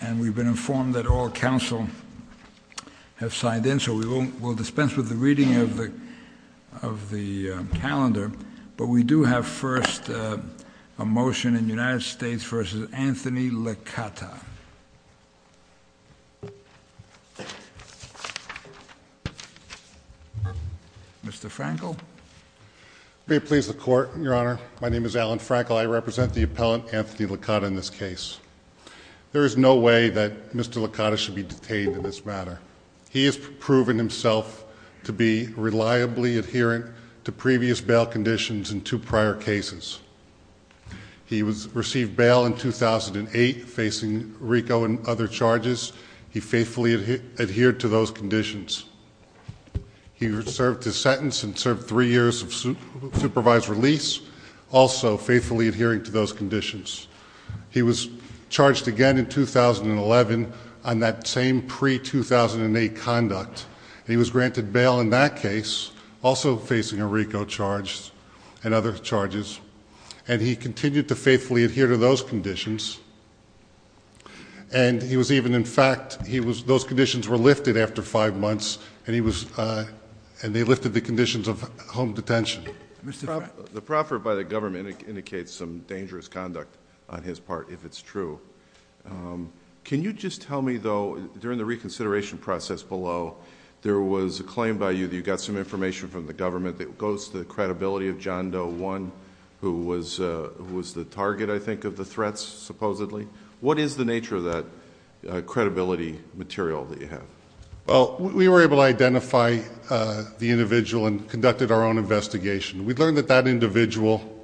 and we've been informed that all counsel have signed in so we will dispense with the reading of the of the calendar but we do have first a motion in the United States v. Anthony Licata. Mr. Frankel. May it please the court your honor my name is Alan Frankel I represent the appellant Anthony Licata in this case. There is no way that Mr. Licata should be detained in this matter. He has proven himself to be reliably adherent to previous bail conditions in two prior cases. He was received bail in 2008 facing RICO and other charges. He faithfully adhered to those conditions. He served his sentence and served three years of supervised release also faithfully adhering to those conditions. He was charged again in 2011 on that same pre-2008 conduct and he was granted bail in that case also facing a RICO charge and other charges and he continued to faithfully adhere to those conditions and he was even in fact he was those conditions were lifted after five months and he was and they lifted the conditions of home detention. The proffer by the government indicates some dangerous conduct on his part if it's true. Can you just tell me though during the reconsideration process below there was a claim by you that you got some information from the government that goes to the credibility of John Doe one who was was the target I think of the threats supposedly. What is the nature of that credibility material that you have? Well we were able to identify the individual and conducted our own investigation. We learned that that individual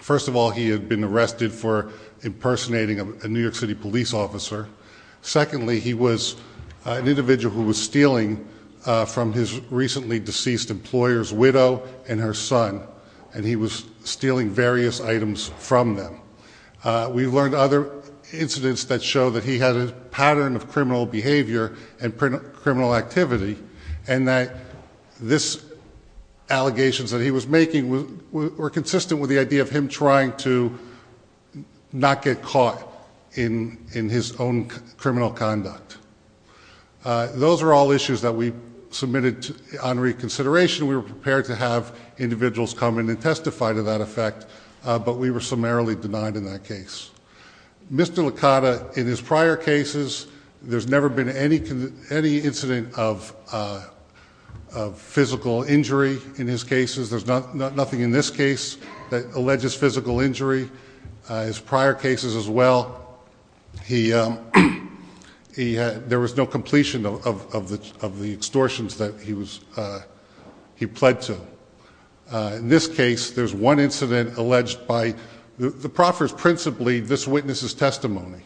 first of all he had been arrested for impersonating a New York City police officer. Secondly he was an individual who was stealing from his recently deceased employer's widow and her son and he was stealing various items from them. We learned other incidents that show that he had a pattern of this allegations that he was making were consistent with the idea of him trying to not get caught in in his own criminal conduct. Those are all issues that we submitted on reconsideration. We were prepared to have individuals come in and testify to that effect but we were summarily denied in that case. Mr. there have been any incident of physical injury in his cases. There's nothing in this case that alleges physical injury. His prior cases as well, there was no completion of the extortions that he pled to. In this case there's one incident alleged by the proffers principally this witness's testimony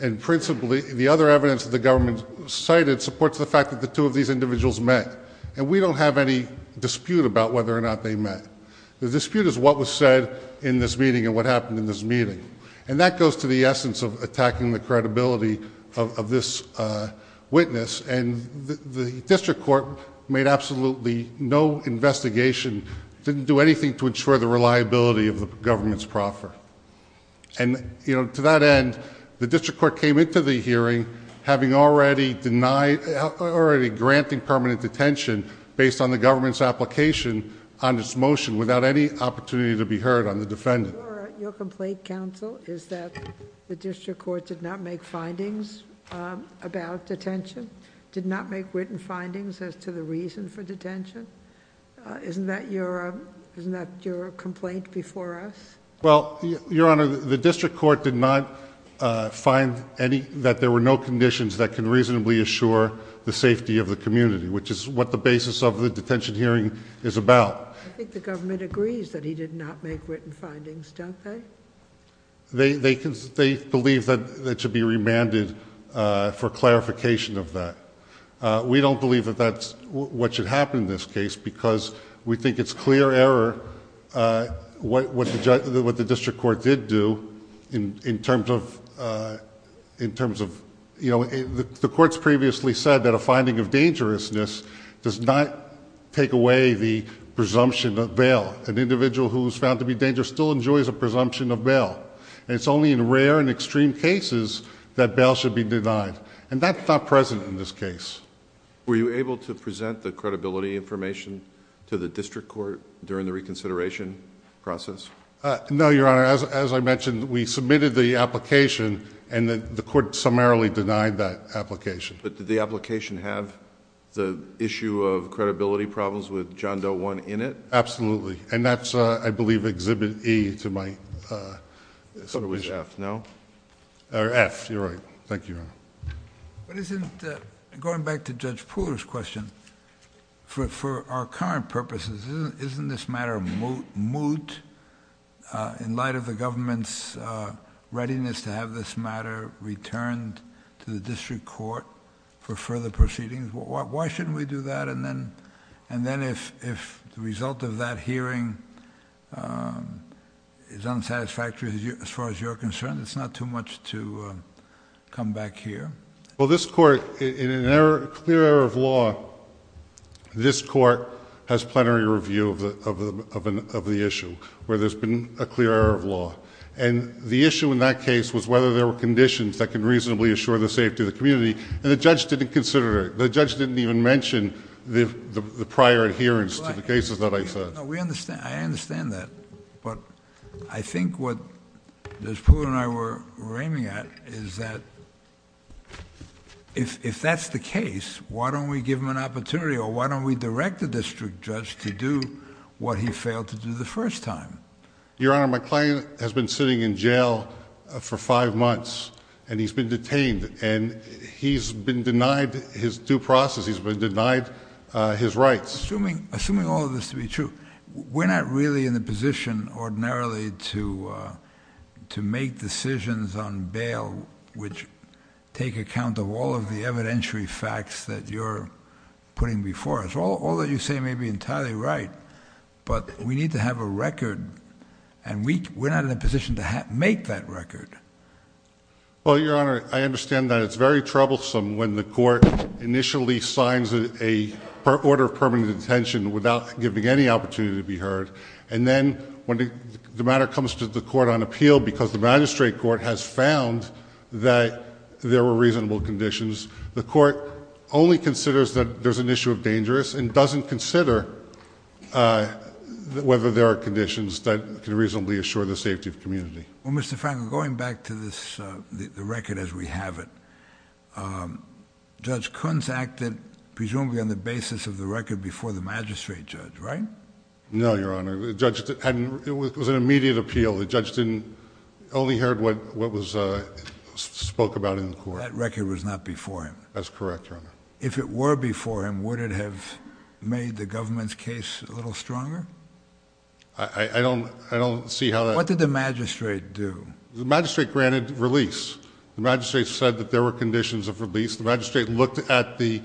and principally the other evidence that the government cited supports the fact that the two of these individuals met and we don't have any dispute about whether or not they met. The dispute is what was said in this meeting and what happened in this meeting and that goes to the essence of attacking the credibility of this witness and the district court made absolutely no investigation, didn't do anything to ensure the reliability of the government's proffer and you know to that end the district court came into the hearing having already denied, already granting permanent detention based on the government's application on this motion without any opportunity to be heard on the defendant. Your complaint counsel is that the district court did not make findings about detention, did not make written findings as to the reason for detention. Isn't that your complaint before us? Well, your honor, the district court did not find any, that there were no conditions that can reasonably assure the safety of the community which is what the basis of the detention hearing is about. I think the government agrees that he did not make written findings, don't they? They believe that it should be remanded for clarification of that. We don't believe that that's what should happen in this case because we think it's clear error what the district court did do in terms of... the courts previously said that a finding of dangerousness does not take away the presumption of bail. An individual who's found to be dangerous still enjoys a presumption of bail. It's only in rare and extreme cases that bail should be denied and that's not present in this case. Were you able to present the credibility information to the district court during the reconsideration process? No, your honor. As I mentioned, we submitted the application and the court summarily denied that application. Did the application have the issue of credibility problems with John Doe I in it? Absolutely. That's, I believe, Exhibit E to my... I thought it was F, no? Or F, you're right. Thank you, your honor. Going back to Judge Pooler's question, for our current purposes, isn't this matter moot in light of the government's readiness to have this matter returned to the district court for further proceedings? Why shouldn't we do that and then if the result of that hearing is unsatisfactory as far as you're concerned, it's not too much to come back here? Well, this court, in a clear error of law, this court has plenary review of the issue where there's been a clear error of law. The issue in that case was whether there were conditions that could reasonably assure the safety of the community and the judge didn't consider it. The judge didn't even mention the prior adherence to the cases that I said. I understand that, but I think what Judge Pooler and I were raiming at is that if that's the case, why don't we give him an opportunity or why don't we direct the district judge to do what he failed to do the first time? Your Honor, my client has been sitting in jail for five months and he's been detained and he's been denied his due process. He's been denied his rights. Assuming all of this to be true, we're not really in the position ordinarily to make decisions on bail which take account of all of the evidentiary facts that you're putting before us. All that you say may be entirely right, but we need to have a record and we're not in a position to make that record. Well, Your Honor, I understand that it's very troublesome when the court initially signs an order of permanent detention without giving any opportunity to be heard. Then when the matter comes to the court on appeal because the magistrate court has found that there were reasonable conditions, the court only considers that there's an issue of dangerous and doesn't consider whether there are conditions that can reasonably assure the safety of the community. Well, Mr. Frankel, going back to the record as we have it, Judge Kunz acted presumably on the basis of the record before the magistrate judge, right? No, Your Honor. It was an immediate appeal. The judge only heard what was spoke about in the court. That record was not before him? That's correct, Your Honor. If it were before him, would it have made the government's case a little stronger? I don't see how that... What did the magistrate do? The magistrate granted release. The magistrate said that there were conditions of release. The magistrate looked at the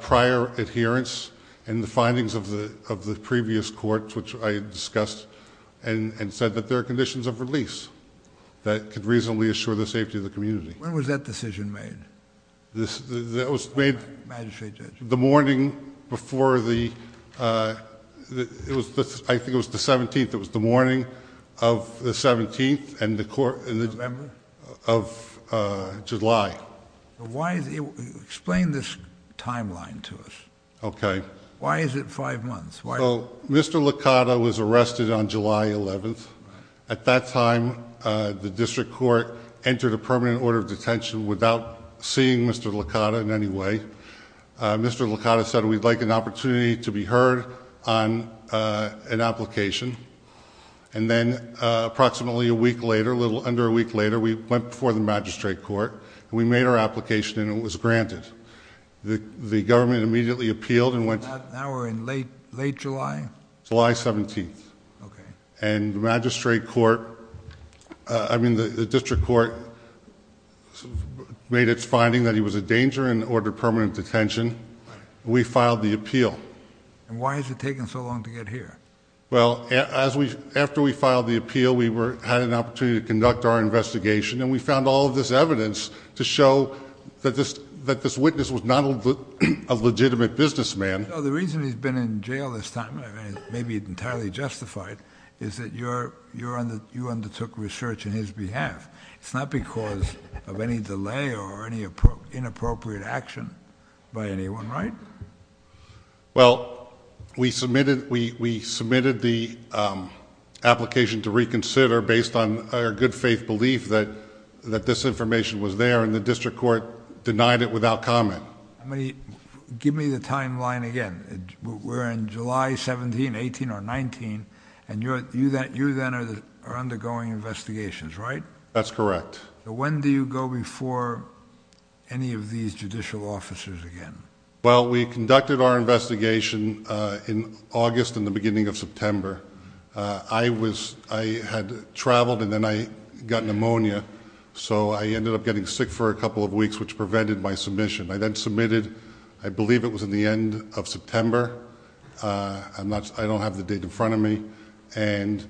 prior adherence and the findings of the previous courts, which I discussed, and said that there are conditions of release that could reasonably assure the safety of the community. When was that decision made? It was made the morning before the... I think it was the 17th. It was the morning of the 17th... November?... of July. Explain this timeline to us. Okay. Why is it five months? Well, Mr. Licata was arrested on July 11th. At that time, the District Court entered a permanent order of detention without seeing Mr. Licata in any way. Mr. Licata said, we'd like an opportunity to be heard on an application. Then, approximately a week later, a little under a week later, we went before the magistrate court. We made our application and it was granted. The government immediately appealed and went... Now we're in late July? July 17th. Okay. The magistrate court... I mean, the District Court made its finding that he was a danger and ordered permanent detention. We filed the appeal. Why has it taken so long to get here? Well, after we filed the appeal, we had an opportunity to conduct our investigation and we found all of this evidence to show that this witness was not a legitimate businessman... So the reason he's been in jail this time, maybe entirely justified, is that you undertook research on his behalf. It's not because of any delay or any inappropriate action by anyone, right? Well, we submitted the application to reconsider based on our good faith belief that this information was there and the District Court denied it without comment. Give me the timeline again. We're in July 17th, 18th or 19th and you then are undergoing investigations, right? That's correct. When do you go before any of these judicial officers again? Well, we conducted our investigation in August and the beginning of September. I had traveled and then I got pneumonia so I ended up getting sick for a couple of weeks which prevented my submission. I then submitted... I believe it was in the end of September. I don't have the date in front of me and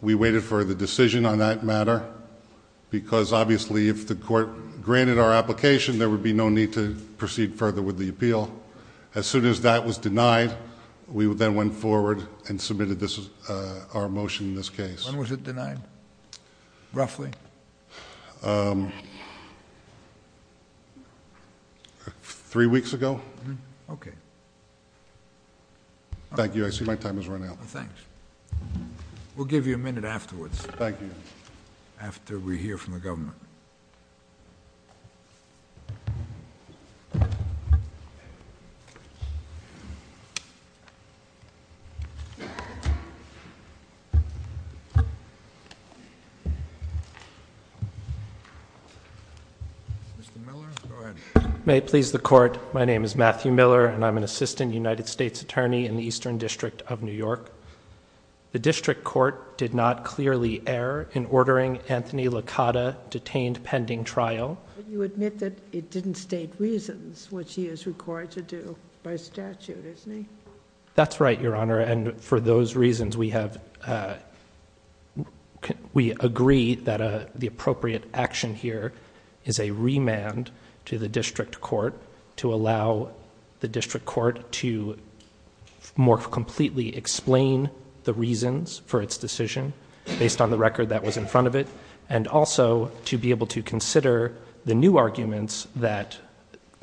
we waited for the decision on that matter because obviously if the court granted our application, there would be no need to proceed further with the appeal. As soon as that was denied, we then went forward and submitted our motion in this case. When was it denied, roughly? Three weeks ago. Okay. Thank you. I see my time has run out. Thanks. We'll give you a minute afterwards. Thank you. Mr. Miller, go ahead. May it please the Court, my name is Matthew Miller and I'm an Assistant United States Attorney in the Eastern District of New York. The district court did not clearly err in ordering Anthony Licata detained pending trial. You admit that it didn't state reasons which he is required to do by statute, isn't he? That's right, Your Honor, and for those reasons we agree that the appropriate action here is a remand to the district court to allow the district court to more completely explain the reasons for its decision based on the record that was in front of it and also to be able to consider the new arguments that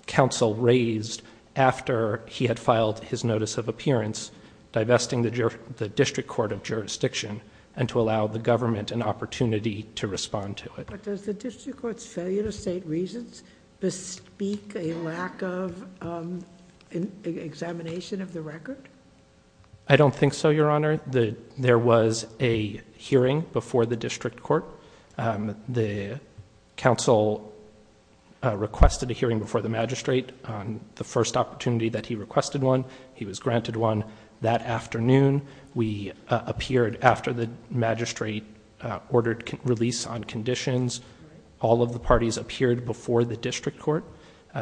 counsel raised after he had filed his notice of appearance divesting the district court of jurisdiction and to allow the government an opportunity to respond to it. Does the district court's failure to state reasons bespeak a lack of examination of the record? I don't think so, Your Honor. There was a hearing before the district court. The counsel requested a hearing before the magistrate on the first opportunity that he requested one. He was granted one that afternoon. We appeared after the magistrate ordered release on conditions. All of the parties appeared before the district court.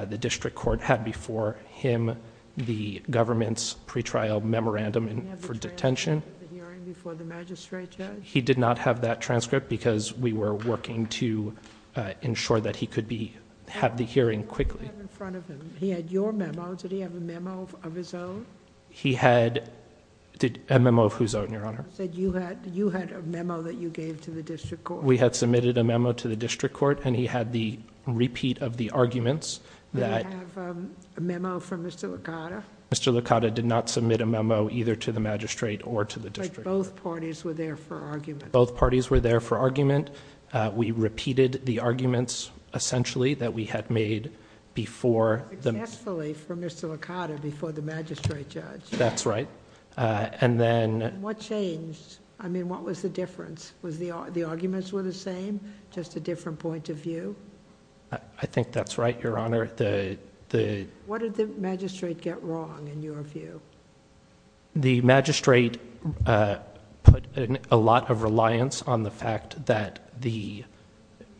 The district court had before him the government's pre-trial memorandum for detention. He had the transcript of the hearing before the magistrate judge? He did not have that transcript because we were working to ensure that he could have the hearing quickly. What did he have in front of him? He had your memo. Did he have a memo of his own? He had... a memo of whose own, Your Honor? You had a memo that you gave to the district court. We had submitted a memo to the district court, and he had the repeat of the arguments that... Did he have a memo from Mr. Licata? Mr. Licata did not submit a memo either to the magistrate or to the district court. Both parties were there for argument? Both parties were there for argument. We repeated the arguments, essentially, that we had made before... Successfully, from Mr. Licata, before the magistrate judge? That's right. And then... What changed? I mean, what was the difference? Was the arguments were the same, just a different point of view? I think that's right, Your Honor. What did the magistrate get wrong, in your view? The magistrate put a lot of reliance on the fact that the...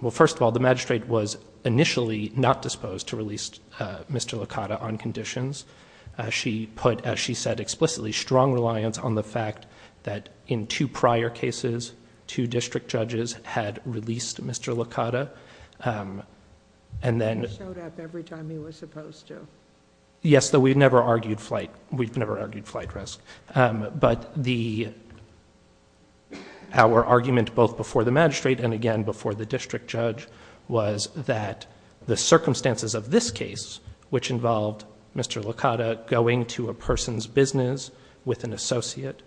well, first of all, the magistrate was initially not disposed to release Mr. Licata on conditions. She put, as she said explicitly, strong reliance on the fact that, in two prior cases, two district judges had released Mr. Licata, and then... He showed up every time he was supposed to. Yes, though we've never argued flight risk. But our argument, both before the magistrate and again before the district judge, was that the circumstances of this case, which involved Mr. Licata going to a person's business with an associate,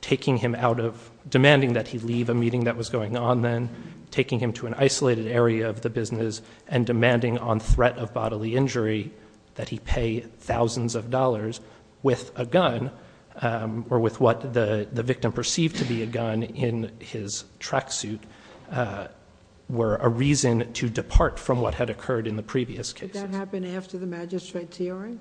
taking him out of... demanding that he leave a meeting that was going on then, taking him to an isolated area of the business, and demanding on threat of bodily injury that he pay thousands of dollars with a gun, or with what the victim perceived to be a gun in his tracksuit, were a reason to depart from what had occurred in the previous cases. Did that happen after the magistrate's hearing,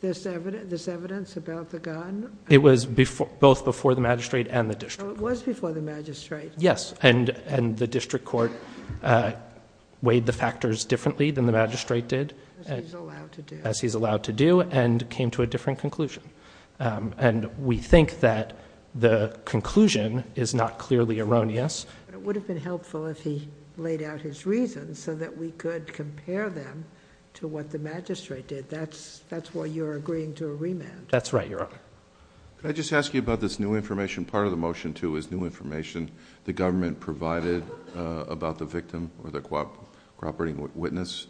this evidence about the gun? It was both before the magistrate and the district court. So it was before the magistrate. Yes, and the district court weighed the factors differently than the magistrate did... As he's allowed to do. As he's allowed to do, and came to a different conclusion. We think that the conclusion is not clearly erroneous... It would have been helpful if he laid out his reasons so that we could compare them to what the magistrate did. That's why you're agreeing to a remand. That's right, Your Honor. Can I just ask you about this new information? Part of the motion, too, is new information the government provided about the victim or the cooperating witness.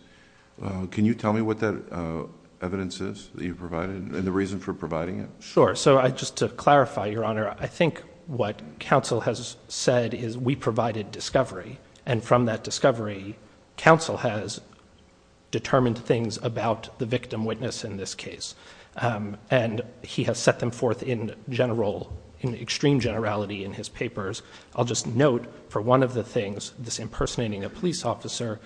Can you tell me what that evidence is that you provided, and the reason for providing it? Sure. So just to clarify, Your Honor, I think what counsel has said is we provided discovery. And from that discovery, counsel has determined things about the victim witness in this case. And he has set them forth in general... in extreme generality in his papers. I'll just note for one of the things, this impersonating a police officer,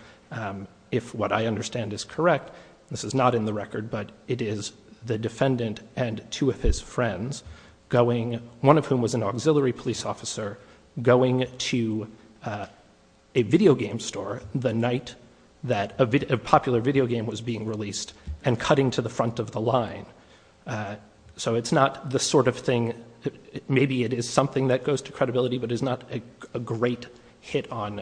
if what I understand is correct... this is not in the record, but it is the defendant and two of his friends going... one of whom was an auxiliary police officer going to a video game store the night that a popular video game was being released and cutting to the front of the line. So it's not the sort of thing... maybe it is something that goes to credibility, but it's not a great hit on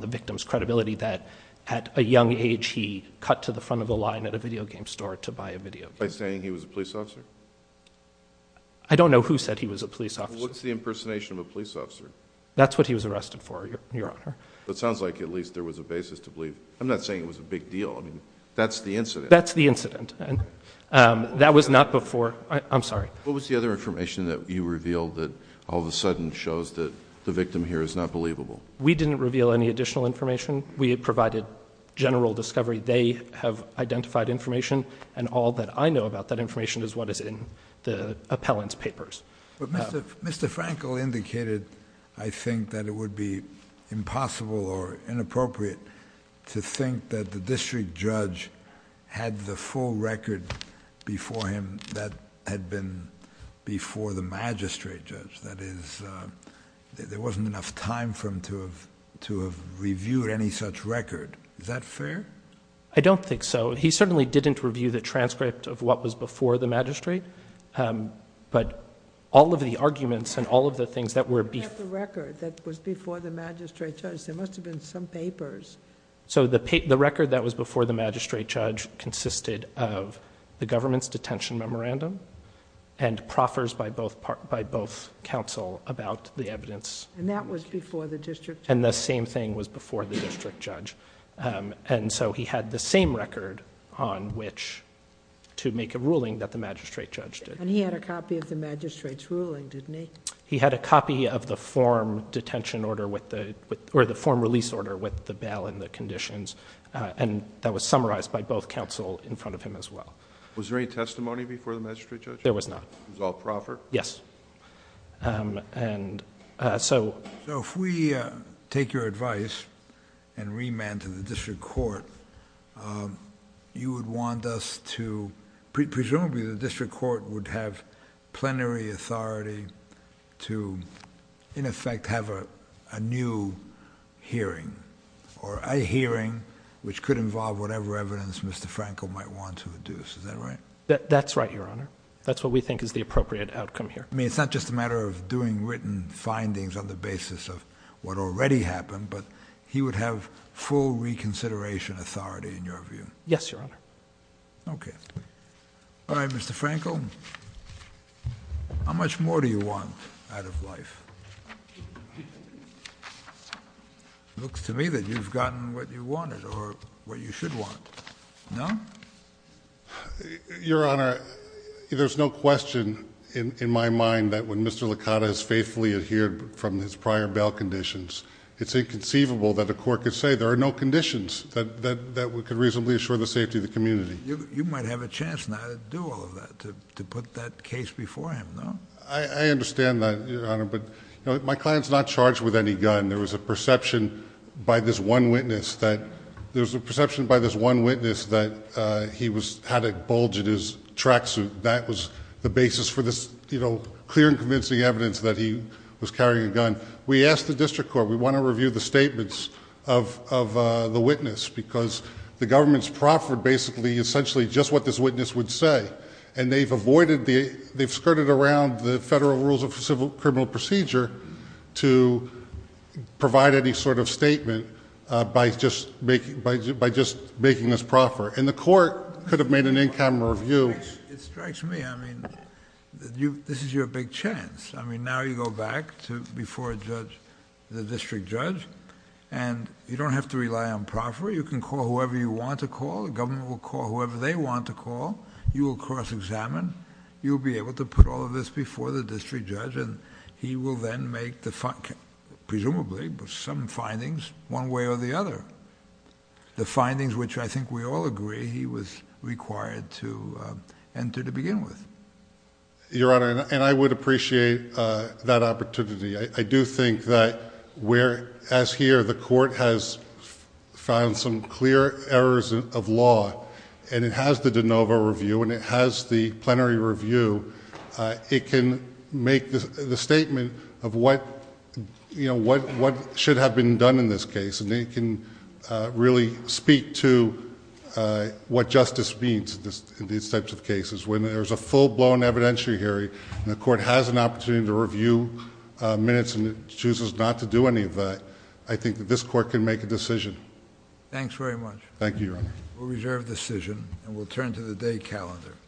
the victim's credibility that at a young age he cut to the front of the line at a video game store to buy a video game. By saying he was a police officer? I don't know who said he was a police officer. Well, what's the impersonation of a police officer? That's what he was arrested for, Your Honor. Well, it sounds like at least there was a basis to believe... I'm not saying it was a big deal. I mean, that's the incident. That's the incident. And that was not before... I'm sorry. What was the other information that you revealed that all of a sudden shows that the victim here is not believable? We didn't reveal any additional information. We provided general discovery. They have identified information. And all that I know about that information is what is in the appellant's papers. But Mr. Frankel indicated, I think, that it would be impossible or inappropriate to think that the district judge had the full record before him that had been before the magistrate judge. That is, there wasn't enough time for him to have reviewed any such record. Is that fair? I don't think so. He certainly didn't review the transcript of what was... all of the arguments and all of the things that were... I don't have the record that was before the magistrate judge. There must have been some papers. The record that was before the magistrate judge consisted of the government's detention memorandum and proffers by both counsel about the evidence... And that was before the district judge? The same thing was before the district judge. He had the same record on which to make a ruling that the magistrate judge did. And he had a copy of the magistrate's ruling, didn't he? He had a copy of the form release order with the bail and the conditions, and that was summarized by both counsel in front of him as well. Was there any testimony before the magistrate judge? There was not. It was all proffer? Yes. So if we take your advice and remand to the district court, you would want us to... presumably the district court would have plenary authority to, in effect, have a new hearing, or a hearing which could involve whatever evidence Mr. Franco might want to deduce. Is that right? That's right, Your Honor. That's what we think is the appropriate outcome here. I mean, it's not just a matter of doing written findings on the basis of what already happened, but he would have full reconsideration authority in your view? Yes, Your Honor. Okay. All right, Mr. Franco. How much more do you want out of life? It looks to me that you've gotten what you wanted, or what you should want. No? Your Honor, there's no question in my mind that when Mr. Licata has faithfully adhered from his prior bail conditions, it's inconceivable that a court could say, there are no conditions that could reasonably assure the safety of the community. You might have a chance now to do all of that, to put that case before him, no? I understand that, Your Honor, but my client's not charged with any gun. There was a perception by this one witness that he had a bulge in his tracksuit. That was the basis for this clear and convincing evidence that he was carrying a gun. We asked the district court, we want to review the witness, because the government's proffered, basically, essentially, just what this witness would say. They've skirted around the federal rules of civil criminal procedure to provide any sort of statement by just making this proffer. The court could have made an in-camera review... It strikes me. This is your big chance. Now you go back to before the district judge, and you don't have to rely on proffer. You can call whoever you want to call. The government will call whoever they want to call. You will cross-examine. You will be able to put all of this before the district judge, and he will then make, presumably, some findings one way or the other. The findings which I think we all agree he was required to enter to begin with. Your Honor, and I would appreciate that opportunity, I do think that where, as here, the court has found some clear errors of law, and it has the de novo review, and it has the plenary review, it can make the statement of what, you know, what should have been done in this case, and it can really speak to what evidentiary hearing, and the court has an opportunity to review minutes, and it chooses not to do any of that, I think that this court can make a decision. Thanks very much. Thank you, Your Honor. We'll reserve the decision, and we'll turn to the day calendar.